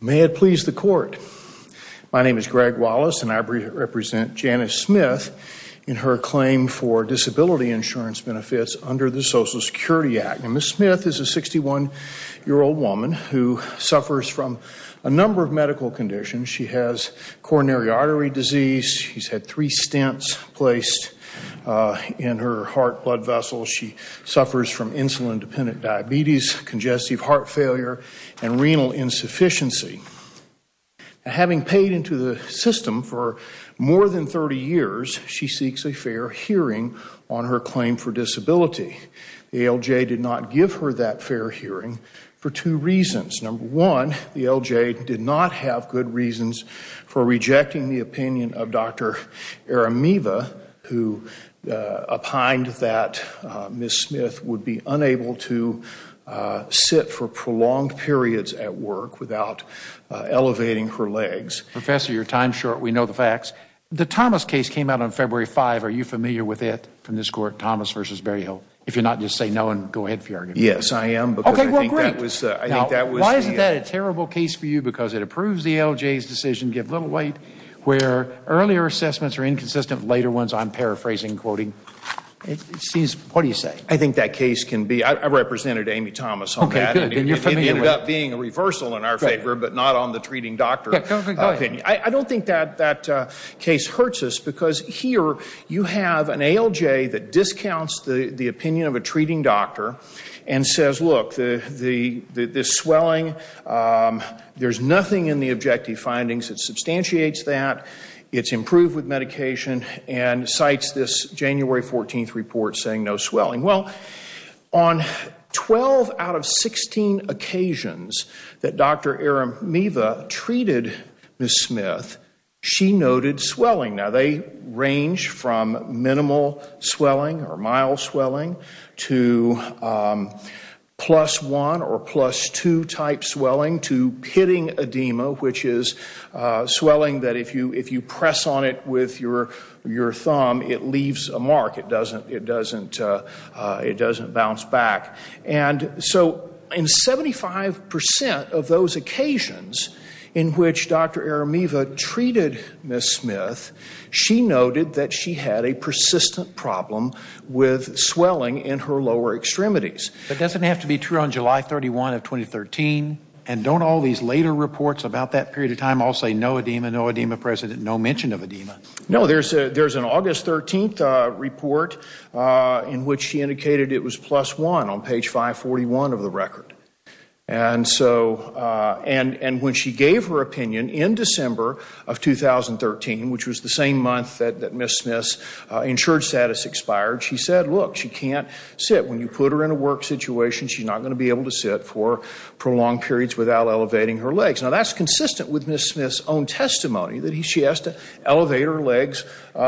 May it please the court. My name is Greg Wallace and I represent Janice Smith in her claim for disability insurance benefits under the Social Security Act. Ms. Smith is a 61-year-old woman who suffers from a number of medical conditions. She has coronary artery disease, she's had three stents placed in her heart blood vessel, she suffers from insulin-dependent diabetes, congestive heart failure, and renal insufficiency. Having paid into the system for more than 30 years, she seeks a fair hearing on her claim for disability. The ALJ did not give her that fair hearing for two reasons. Number one, the ALJ did not have good reasons for rejecting the opinion of Dr. Aramiva, who opined that Ms. Smith would be unable to sit for prolonged periods at work without elevating her legs. Professor, your time's short, we know the facts. The Thomas case came out on February 5. Are you familiar with it from this court, Thomas versus Berryhill? If you're not, just say no and go ahead if you are. Yes, I am. Why is that a terrible case for you? Because it approves the ALJ's decision to give little weight, where earlier assessments are inconsistent, later ones I'm paraphrasing, quoting. It seems, what do you say? I think that case can be, I represented Amy Thomas on that. It ended up being a reversal in our favor, but not on the treating doctor. I don't think that that case hurts us, because here you have an ALJ that there's nothing in the objective findings that substantiates that. It's improved with medication and cites this January 14th report saying no swelling. Well, on 12 out of 16 occasions that Dr. Aramiva treated Ms. Smith, she noted swelling. Now they range from minimal swelling or mild swelling to plus one or plus two type swelling to pitting edema, which is swelling that if you press on it with your thumb, it leaves a mark. It doesn't bounce back. And so in 75% of those occasions in which Dr. Aramiva treated Ms. Smith, she noted that she had a persistent problem with swelling in her lower extremities. That doesn't have to be true on July 31 of 2013? And don't all these later reports about that period of time all say no edema, no edema, President, no mention of edema? No, there's an August 13th report in which she indicated it was plus one on page 541 of the record. And so, and when she gave her opinion in December of 2013, which was the same month that she can't sit, when you put her in a work situation, she's not going to be able to sit for prolonged periods without elevating her legs. Now that's consistent with Ms. Smith's own testimony that she has to elevate her legs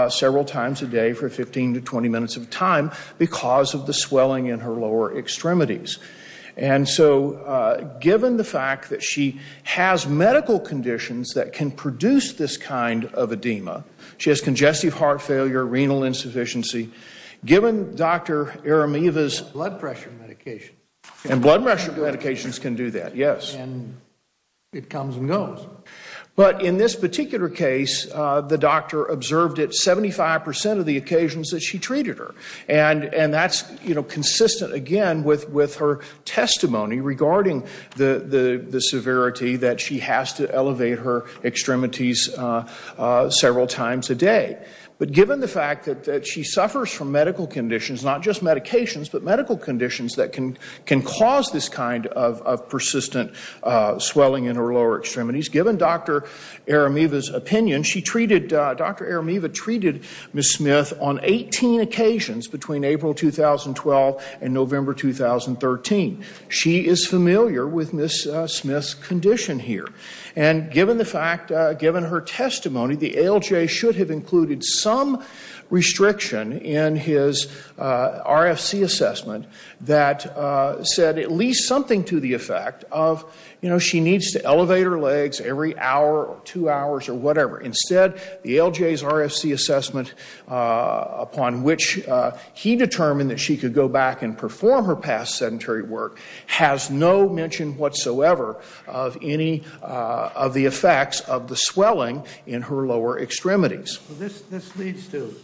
several times a day for 15 to 20 minutes of time because of the swelling in her lower extremities. And so given the fact that she has medical conditions that can produce this kind of edema, she has congestive heart failure, renal insufficiency, given Dr. Aramiva's blood pressure medication, and blood pressure medications can do that, yes. And it comes and goes. But in this particular case, the doctor observed at 75% of the occasions that she treated her. And that's, you know, consistent again with her testimony regarding the severity that she has to elevate her legs several times a day. But given the fact that she suffers from medical conditions, not just medications, but medical conditions that can cause this kind of persistent swelling in her lower extremities, given Dr. Aramiva's opinion, she treated, Dr. Aramiva treated Ms. Smith on 18 occasions between April 2012 and November 2013. She is familiar with Ms. Smith's condition here. And given the fact, given her testimony, the ALJ should have included some restriction in his RFC assessment that said at least something to the effect of, you know, she needs to elevate her legs every hour or two hours or whatever. Instead, the ALJ's RFC assessment upon which he determined that she could perform her past sedentary work has no mention whatsoever of any of the effects of the swelling in her lower extremities. This leads to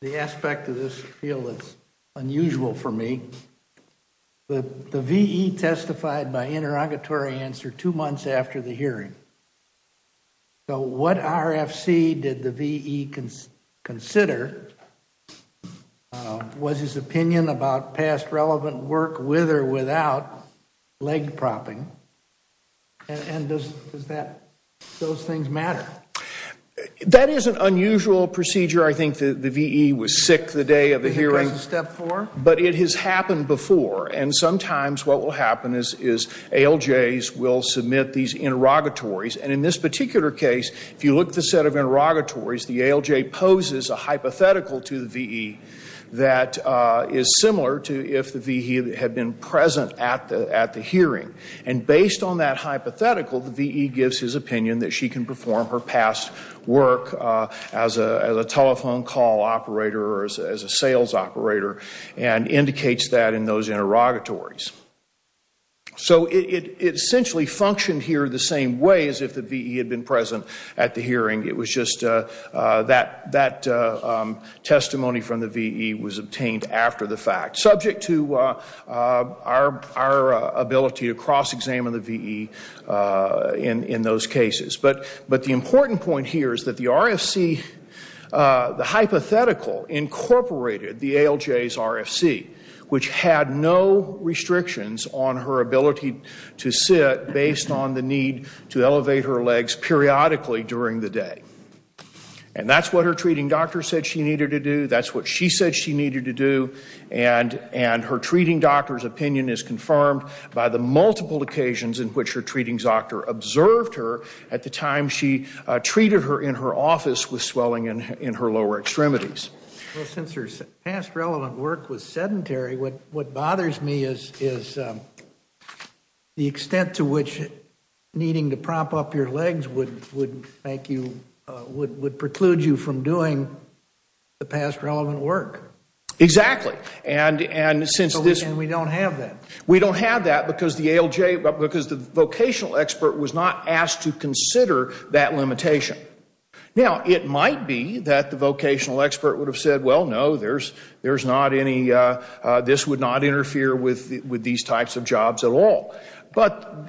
the aspect of this field that's unusual for me. The VE testified by interrogatory answer two months after the hearing. So what RFC did the VE consider? Was his opinion about past relevant work with or without leg propping? And does that, those things matter? That is an unusual procedure. I think the VE was sick the day of the hearing. Because of step four? But it has happened before. And sometimes what will happen is ALJs will submit these interrogatories. And in this particular case, if you look at the set of interrogatories, the ALJ poses a hypothetical to the VE that is similar to if the VE had been present at the hearing. And based on that hypothetical, the VE gives his opinion that she can perform her past work as a telephone call operator or as a sales operator and indicates that in those interrogatories. So it essentially functioned here the same way as if the VE had been present at the hearing. It was just that testimony from the VE was obtained after the fact, subject to our ability to cross examine the VE in those cases. But the important point here is that the RFC, the hypothetical incorporated the ALJ's RFC, which had no restrictions on her ability to sit based on the need to elevate her legs periodically during the day. And that's what her treating doctor said she needed to do. That's what she said she needed to do. And her treating doctor's opinion is confirmed by the multiple occasions in which her treating doctor observed her at the time she treated her in her office with swelling in her lower extremities. Well, since her past relevant work was sedentary, what bothers me is the extent to which needing to prop up your legs would make you, would preclude you from doing the past relevant work. Exactly. And since this And we don't have that. We don't have that because the ALJ, because the vocational expert was not asked to consider that limitation. Now, it might be that the vocational expert would have said, well, no, there's not any, this would not interfere with these types of jobs at all. But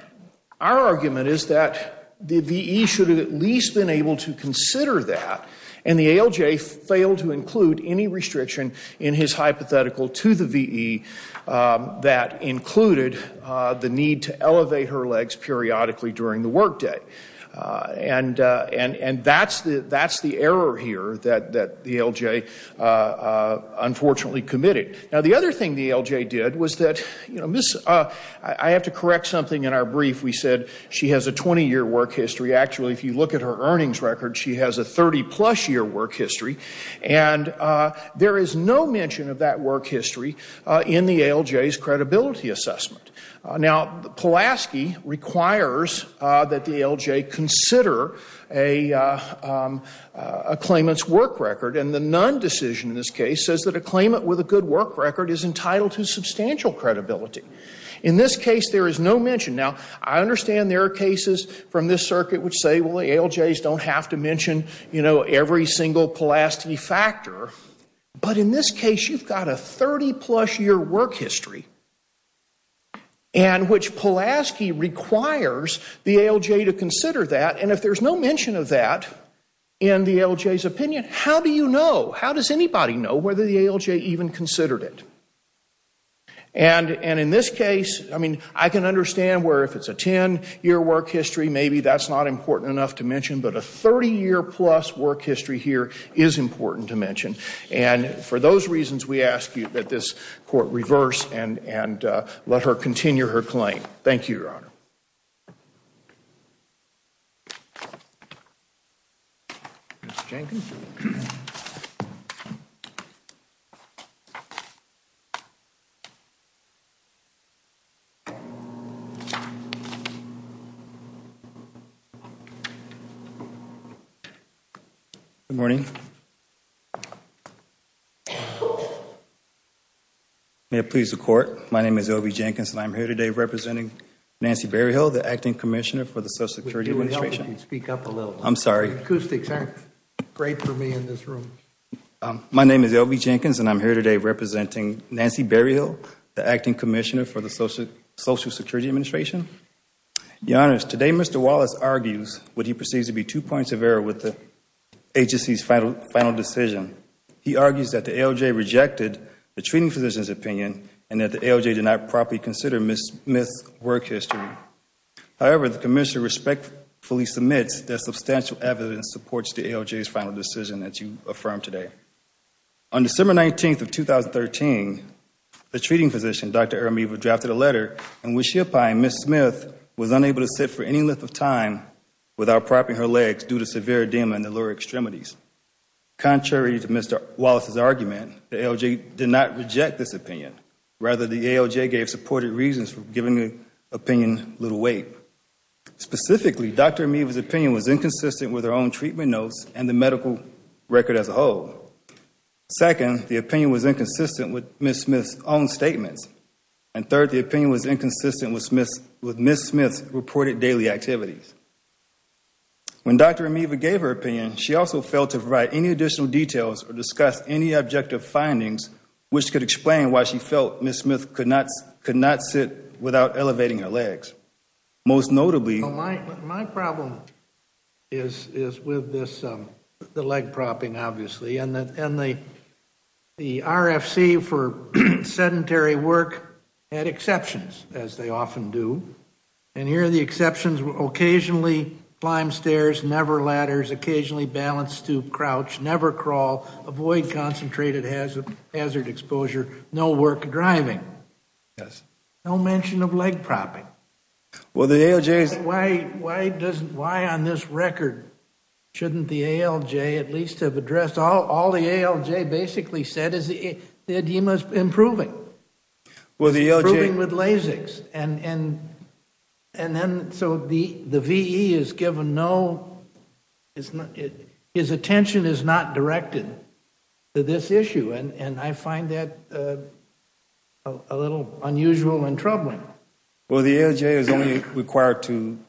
our argument is that the VE should have at least been able to consider that, and the ALJ failed to include any restriction in his hypothetical to the VE that included the need to elevate her legs periodically during the workday. And that's the error here that the ALJ unfortunately committed. Now, the other thing the ALJ did was that, you know, I have to correct something in our brief. We said she has a 20-year work history. Actually, if you look at her earnings record, she has a 30-plus-year work history. And there is no mention of that work history in the ALJ's credibility assessment. Now, Pulaski requires that the ALJ consider a claimant's work record, and the Nunn decision in this case says that a claimant with a good work record is entitled to substantial credibility. In this case, there is no mention. Now, I understand there are cases from this circuit which say, well, the ALJs don't have to mention, you know, every single Pulaski factor. But in this case, you've got a 30-plus-year work history and which Pulaski requires the ALJ to consider that. And if there's no mention of that in the ALJ's opinion, how do you know? How does anybody know whether the ALJ even considered it? And in this case, I mean, I can understand where if it's a 10-year work history, maybe that's not important enough to mention. But a 30-year-plus work history here is important to mention. And for those reasons, we ask that this Court reverse and let her continue her claim. Thank you, Your Honor. Good morning. May it please the Court, my name is Elvie Jenkins, and I'm here today representing Nancy Berryhill, the Acting Commissioner for the Social Security Administration. Would you help if you speak up a little? I'm sorry. Acoustics aren't great for me in this room. My name is Elvie Jenkins, and I'm here today representing Nancy Berryhill, the Acting Commissioner for the Social Security Administration. Your Honors, today Mr. Wallace argues what he perceives to be two points of error with the agency's final decision. He argues that the ALJ rejected the treating physician's opinion and that the ALJ did not properly consider Ms. Smith's work history. However, the Commissioner respectfully submits that substantial evidence supports the ALJ's final decision that you affirmed today. On December 19th of 2013, the treating physician, Dr. Ermiva, drafted a letter in which she opined Ms. Smith was unable to sit for any length of time without propping her legs due to severe edema in the lower extremities. Contrary to Mr. Wallace's argument, the ALJ did not reject this opinion. Rather, the ALJ gave supported reasons for giving the opinion little weight. Specifically, Dr. Ermiva's opinion was inconsistent with her own treatment notes and the medical record as a whole. Second, the opinion was inconsistent with Ms. Smith's own statements. Third, the opinion was inconsistent with Ms. Smith's reported daily activities. When Dr. Ermiva gave her opinion, she also failed to provide any additional details or discuss any she felt Ms. Smith could not sit without elevating her legs. Most notably... My problem is with the leg propping, obviously. And the RFC for sedentary work had exceptions, as they often do. And here are the exceptions. Occasionally, climb stairs, never ladders, occasionally balance stoop, crouch, never crawl, avoid concentrated hazard exposure, no work driving. No mention of leg propping. Why on this record shouldn't the ALJ at least have addressed... All the ALJ basically said is the edema's improving. Improving with Lasix. And so the VE has given no... His attention is not directed to this issue. And I find that a little unusual and troubling. Well, the ALJ is only required to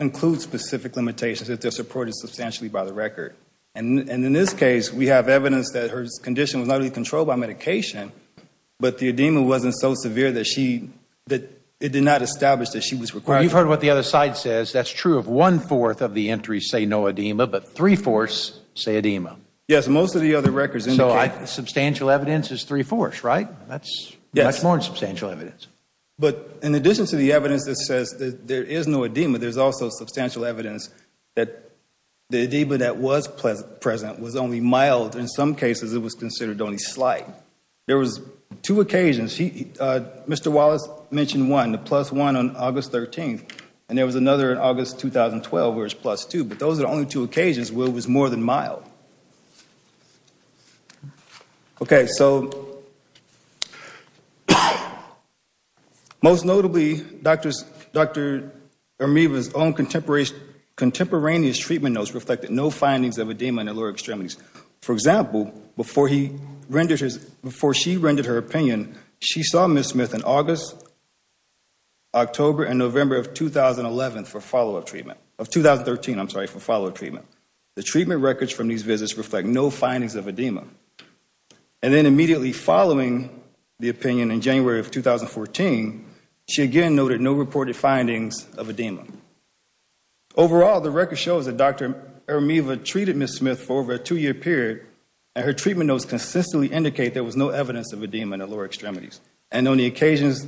include specific limitations if they're supported substantially by the record. And in this case, we have evidence that her condition was not really controlled by medication, but the edema wasn't so severe that it did not establish that she was required... Well, you've heard what the other side says. That's true of one-fourth of the entries say no edema, but three-fourths say edema. Yes, most of the other records indicate... So substantial evidence is three-fourths, right? That's more than substantial evidence. But in addition to the evidence that says that there is no edema, there's also substantial evidence that the edema that was present was only mild. In some cases, it was considered only slight. There was two occasions. Mr. Wallace mentioned one, the plus one on August 13th, and there was another in August 2012 where it's plus two. But those are the only two occasions where it was more than mild. Okay, so most notably, Dr. Ermeva's own contemporaneous treatment notes reflected no edema. Overall, the records show that Dr. Ermeva treated Ms. Smith for over a two-year period, and her treatment notes consistently indicate there was no evidence of edema in the lower extremities. And on the occasions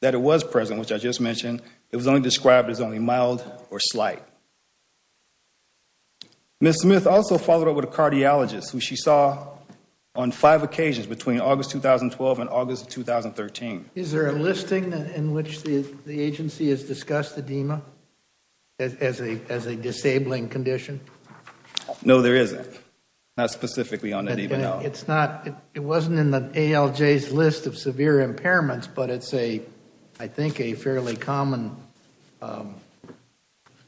that it was present, which I just mentioned, it was only described as only mild or slight. Ms. Smith also followed up with a cardiologist, who she saw on five occasions between August 2012 and August 2013. Is there a listing in which the agency has discussed edema as a disabling condition? No, there isn't. Not specifically on edema. It wasn't in the ALJ's list of severe impairments, but it's, I think, a fairly common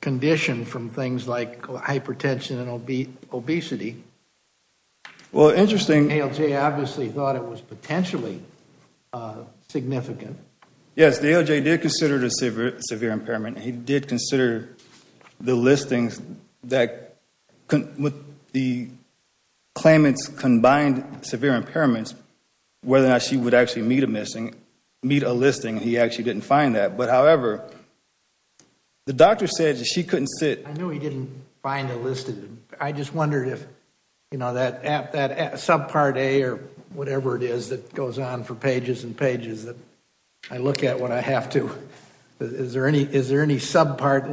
condition from things like hypertension and obesity. Well, interesting. ALJ obviously thought it was potentially significant. Yes, the ALJ did consider severe impairment, and he did consider the listings that, with the claimants' combined severe impairments, whether or not she would actually meet a listing. He actually didn't find that. But however, the doctor said that she couldn't sit. I know he didn't find the listing. I just wondered if, you know, that subpart A or whatever it is that goes on for pages and pages I look at when I have to. Is there any listing subpart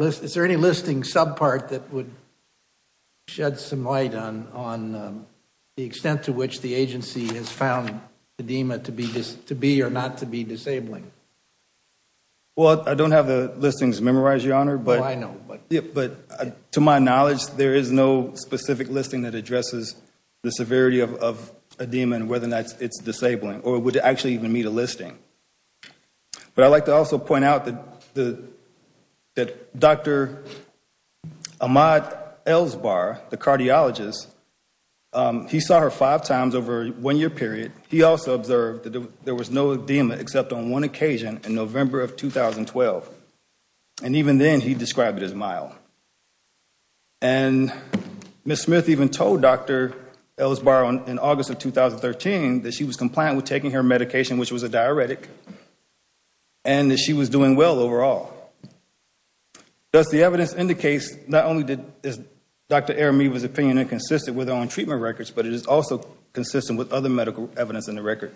that would shed some light on the extent to which the agency has found edema to be or not to be disabling? Well, I don't have the listings memorized, Your Honor. Oh, I know. But to my knowledge, there is no specific listing that addresses the severity of edema and whether or not it's disabling or would actually even meet a listing. But I'd like to also point out that Dr. Ahmaud Elsbar, the cardiologist, he saw her five times over a one-year period. He also observed that there was no edema except on one occasion in November of 2012. And even then, he described it as mild. And Ms. Smith even told Dr. Elsbar in August of 2013 that she was compliant with taking her medication, which was a diuretic, and that she was doing well overall. Thus, the evidence indicates not only is Dr. Ahmaud's opinion inconsistent with her own treatment records, but it is also consistent with other medical evidence in the record.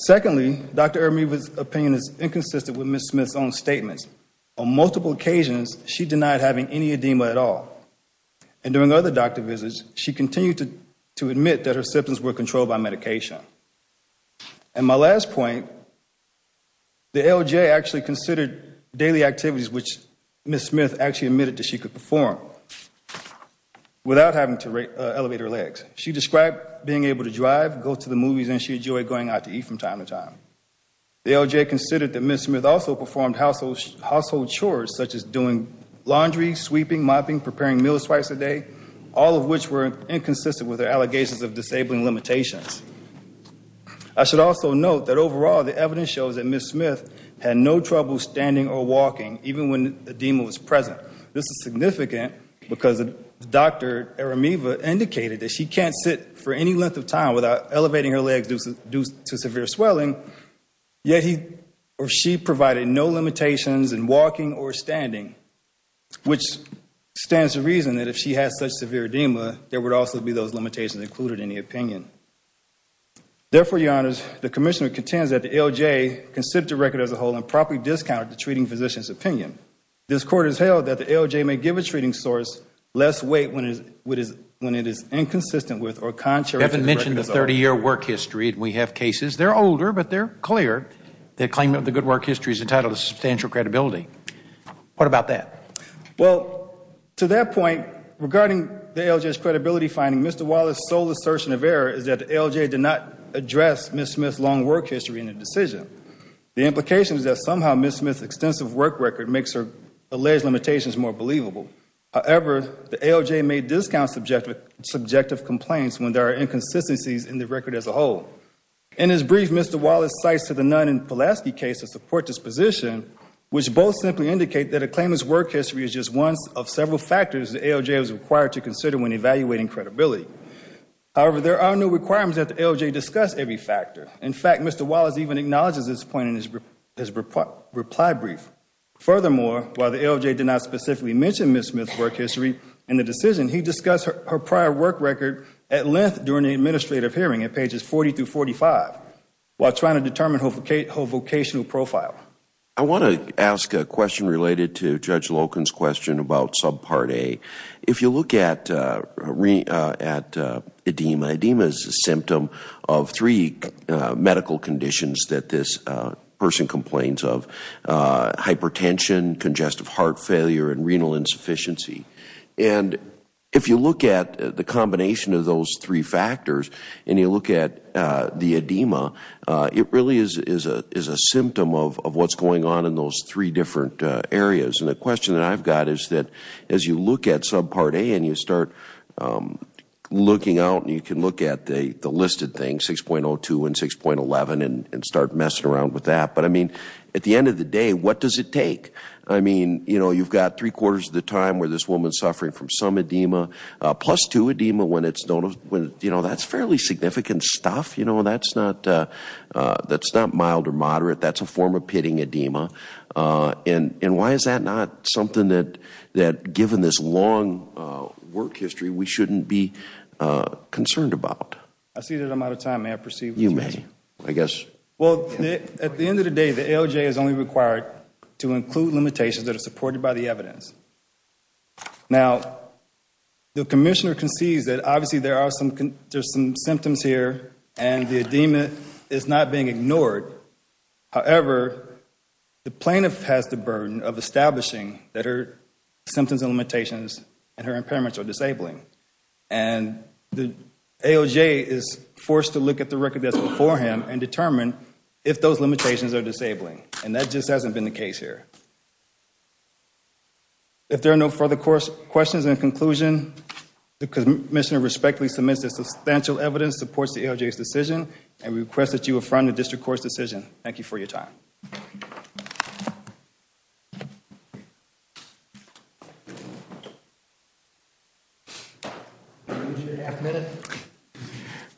Secondly, Dr. Ahmaud's opinion is inconsistent with Ms. Smith's own statements. On multiple occasions, she denied having any edema at all. And during other doctor visits, she continued to state that her symptoms were controlled by medication. And my last point, the LJ actually considered daily activities which Ms. Smith actually admitted that she could perform without having to elevate her legs. She described being able to drive, go to the movies, and she enjoyed going out to eat from time to time. The LJ considered that Ms. Smith also performed household chores such as doing laundry, sweeping, mopping, preparing meals twice a day, all of which were inconsistent with her allegations of disabling limitations. I should also note that overall, the evidence shows that Ms. Smith had no trouble standing or walking even when edema was present. This is significant because Dr. Aramiva indicated that she can't sit for any length of time without elevating her legs due to severe swelling, yet he or she provided no limitations in walking or standing, which stands to reason that if she had such severe edema, there would also be those limitations included in the opinion. Therefore, Your Honors, the Commissioner contends that the LJ considered the record as a whole and properly discounted the treating physician's opinion. This Court has held that the LJ may give a treating source less weight when it is inconsistent with or contrary to the record as a whole. They are older, but they are clear that the claimant of the good work history is entitled to substantial credibility. What about that? Well, to that point, regarding the LJ's credibility finding, Mr. Wallace's sole assertion of error is that the LJ did not address Ms. Smith's long work history in the decision. The implication is that somehow Ms. Smith's extensive work record makes her alleged limitations more believable. However, the LJ may discount subjective complaints when there are inconsistencies in the record as a whole. In his brief, Mr. Wallace cites to the claimant's work history as just one of several factors the LJ was required to consider when evaluating credibility. However, there are no requirements that the LJ discuss every factor. In fact, Mr. Wallace even acknowledges this point in his reply brief. Furthermore, while the LJ did not specifically mention Ms. Smith's work history in the decision, he discussed her prior work record at length during the administrative hearing at pages 40 through 45 while trying to determine her vocational profile. I want to ask a question related to Judge Loken's question about subpart A. If you look at edema, edema is a symptom of three medical conditions that this person complains of, hypertension, congestive heart failure, and renal insufficiency. And if you look at the combination of those three factors and you look at the edema, it really is a symptom of what's going on in those three different areas. And the question that I've got is that as you look at subpart A and you start looking out and you can look at the listed things, 6.02 and 6.11, and start messing around with that. But I mean, at the end of the day, what does it take? I mean, you know, you've got three quarters of the time where this woman's suffering from some edema, plus two edema when that's fairly significant stuff. You know, that's not mild or moderate. That's a form of pitting edema. And why is that not something that, given this long work history, we shouldn't be concerned about? I see that I'm out of time. May I proceed? You may, I guess. Well, at the end of the day, the ALJ is only required to include limitations that are supported by the evidence. Now, the commissioner concedes that, obviously, there are some symptoms here and the edema is not being ignored. However, the plaintiff has the burden of establishing that her symptoms and limitations and her impairments are disabling. And the ALJ is forced to look at the record that's before him and determine if those limitations are disabling. And that just hasn't been the case here. If there are no further questions in conclusion, the commissioner respectfully submits the substantial evidence that supports the ALJ's decision and requests that you affront the district court's decision. Thank you for your time.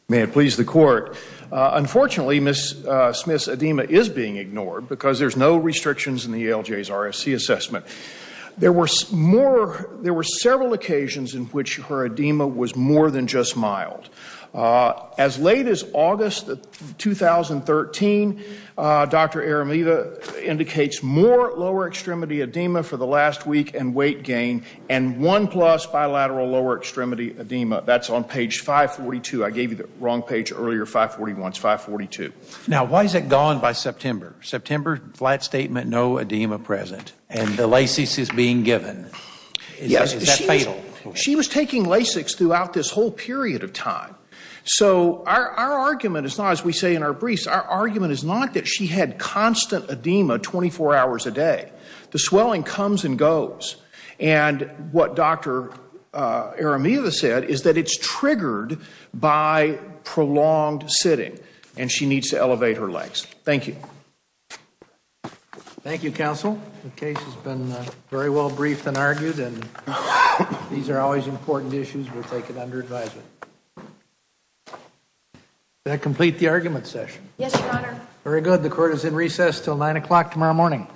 May it please the court. Unfortunately, Ms. Smith's edema is being ignored because there's no restrictions in the ALJ's RFC assessment. There were several occasions in which her edema was more than just mild. As late as August 2013, Dr. Aramida indicates more lower extremity edema for the last week and weight gain and one plus bilateral lower extremity edema. That's on page 542. I gave you the wrong page earlier, 541. It's 542. Now, why is it gone by September? September, flat statement, no edema present. And the LASIX is being given. Is that fatal? She was taking LASIX throughout this whole period of time. So, our argument is not, she had constant edema 24 hours a day. The swelling comes and goes. And what Dr. Aramida said is that it's triggered by prolonged sitting and she needs to elevate her legs. Thank you. Thank you, counsel. The case has been very well briefed and argued and these are always important issues that are taken under advisement. Does that complete the argument session? Yes, your honor. Very good. The court is in recess until nine o'clock tomorrow morning.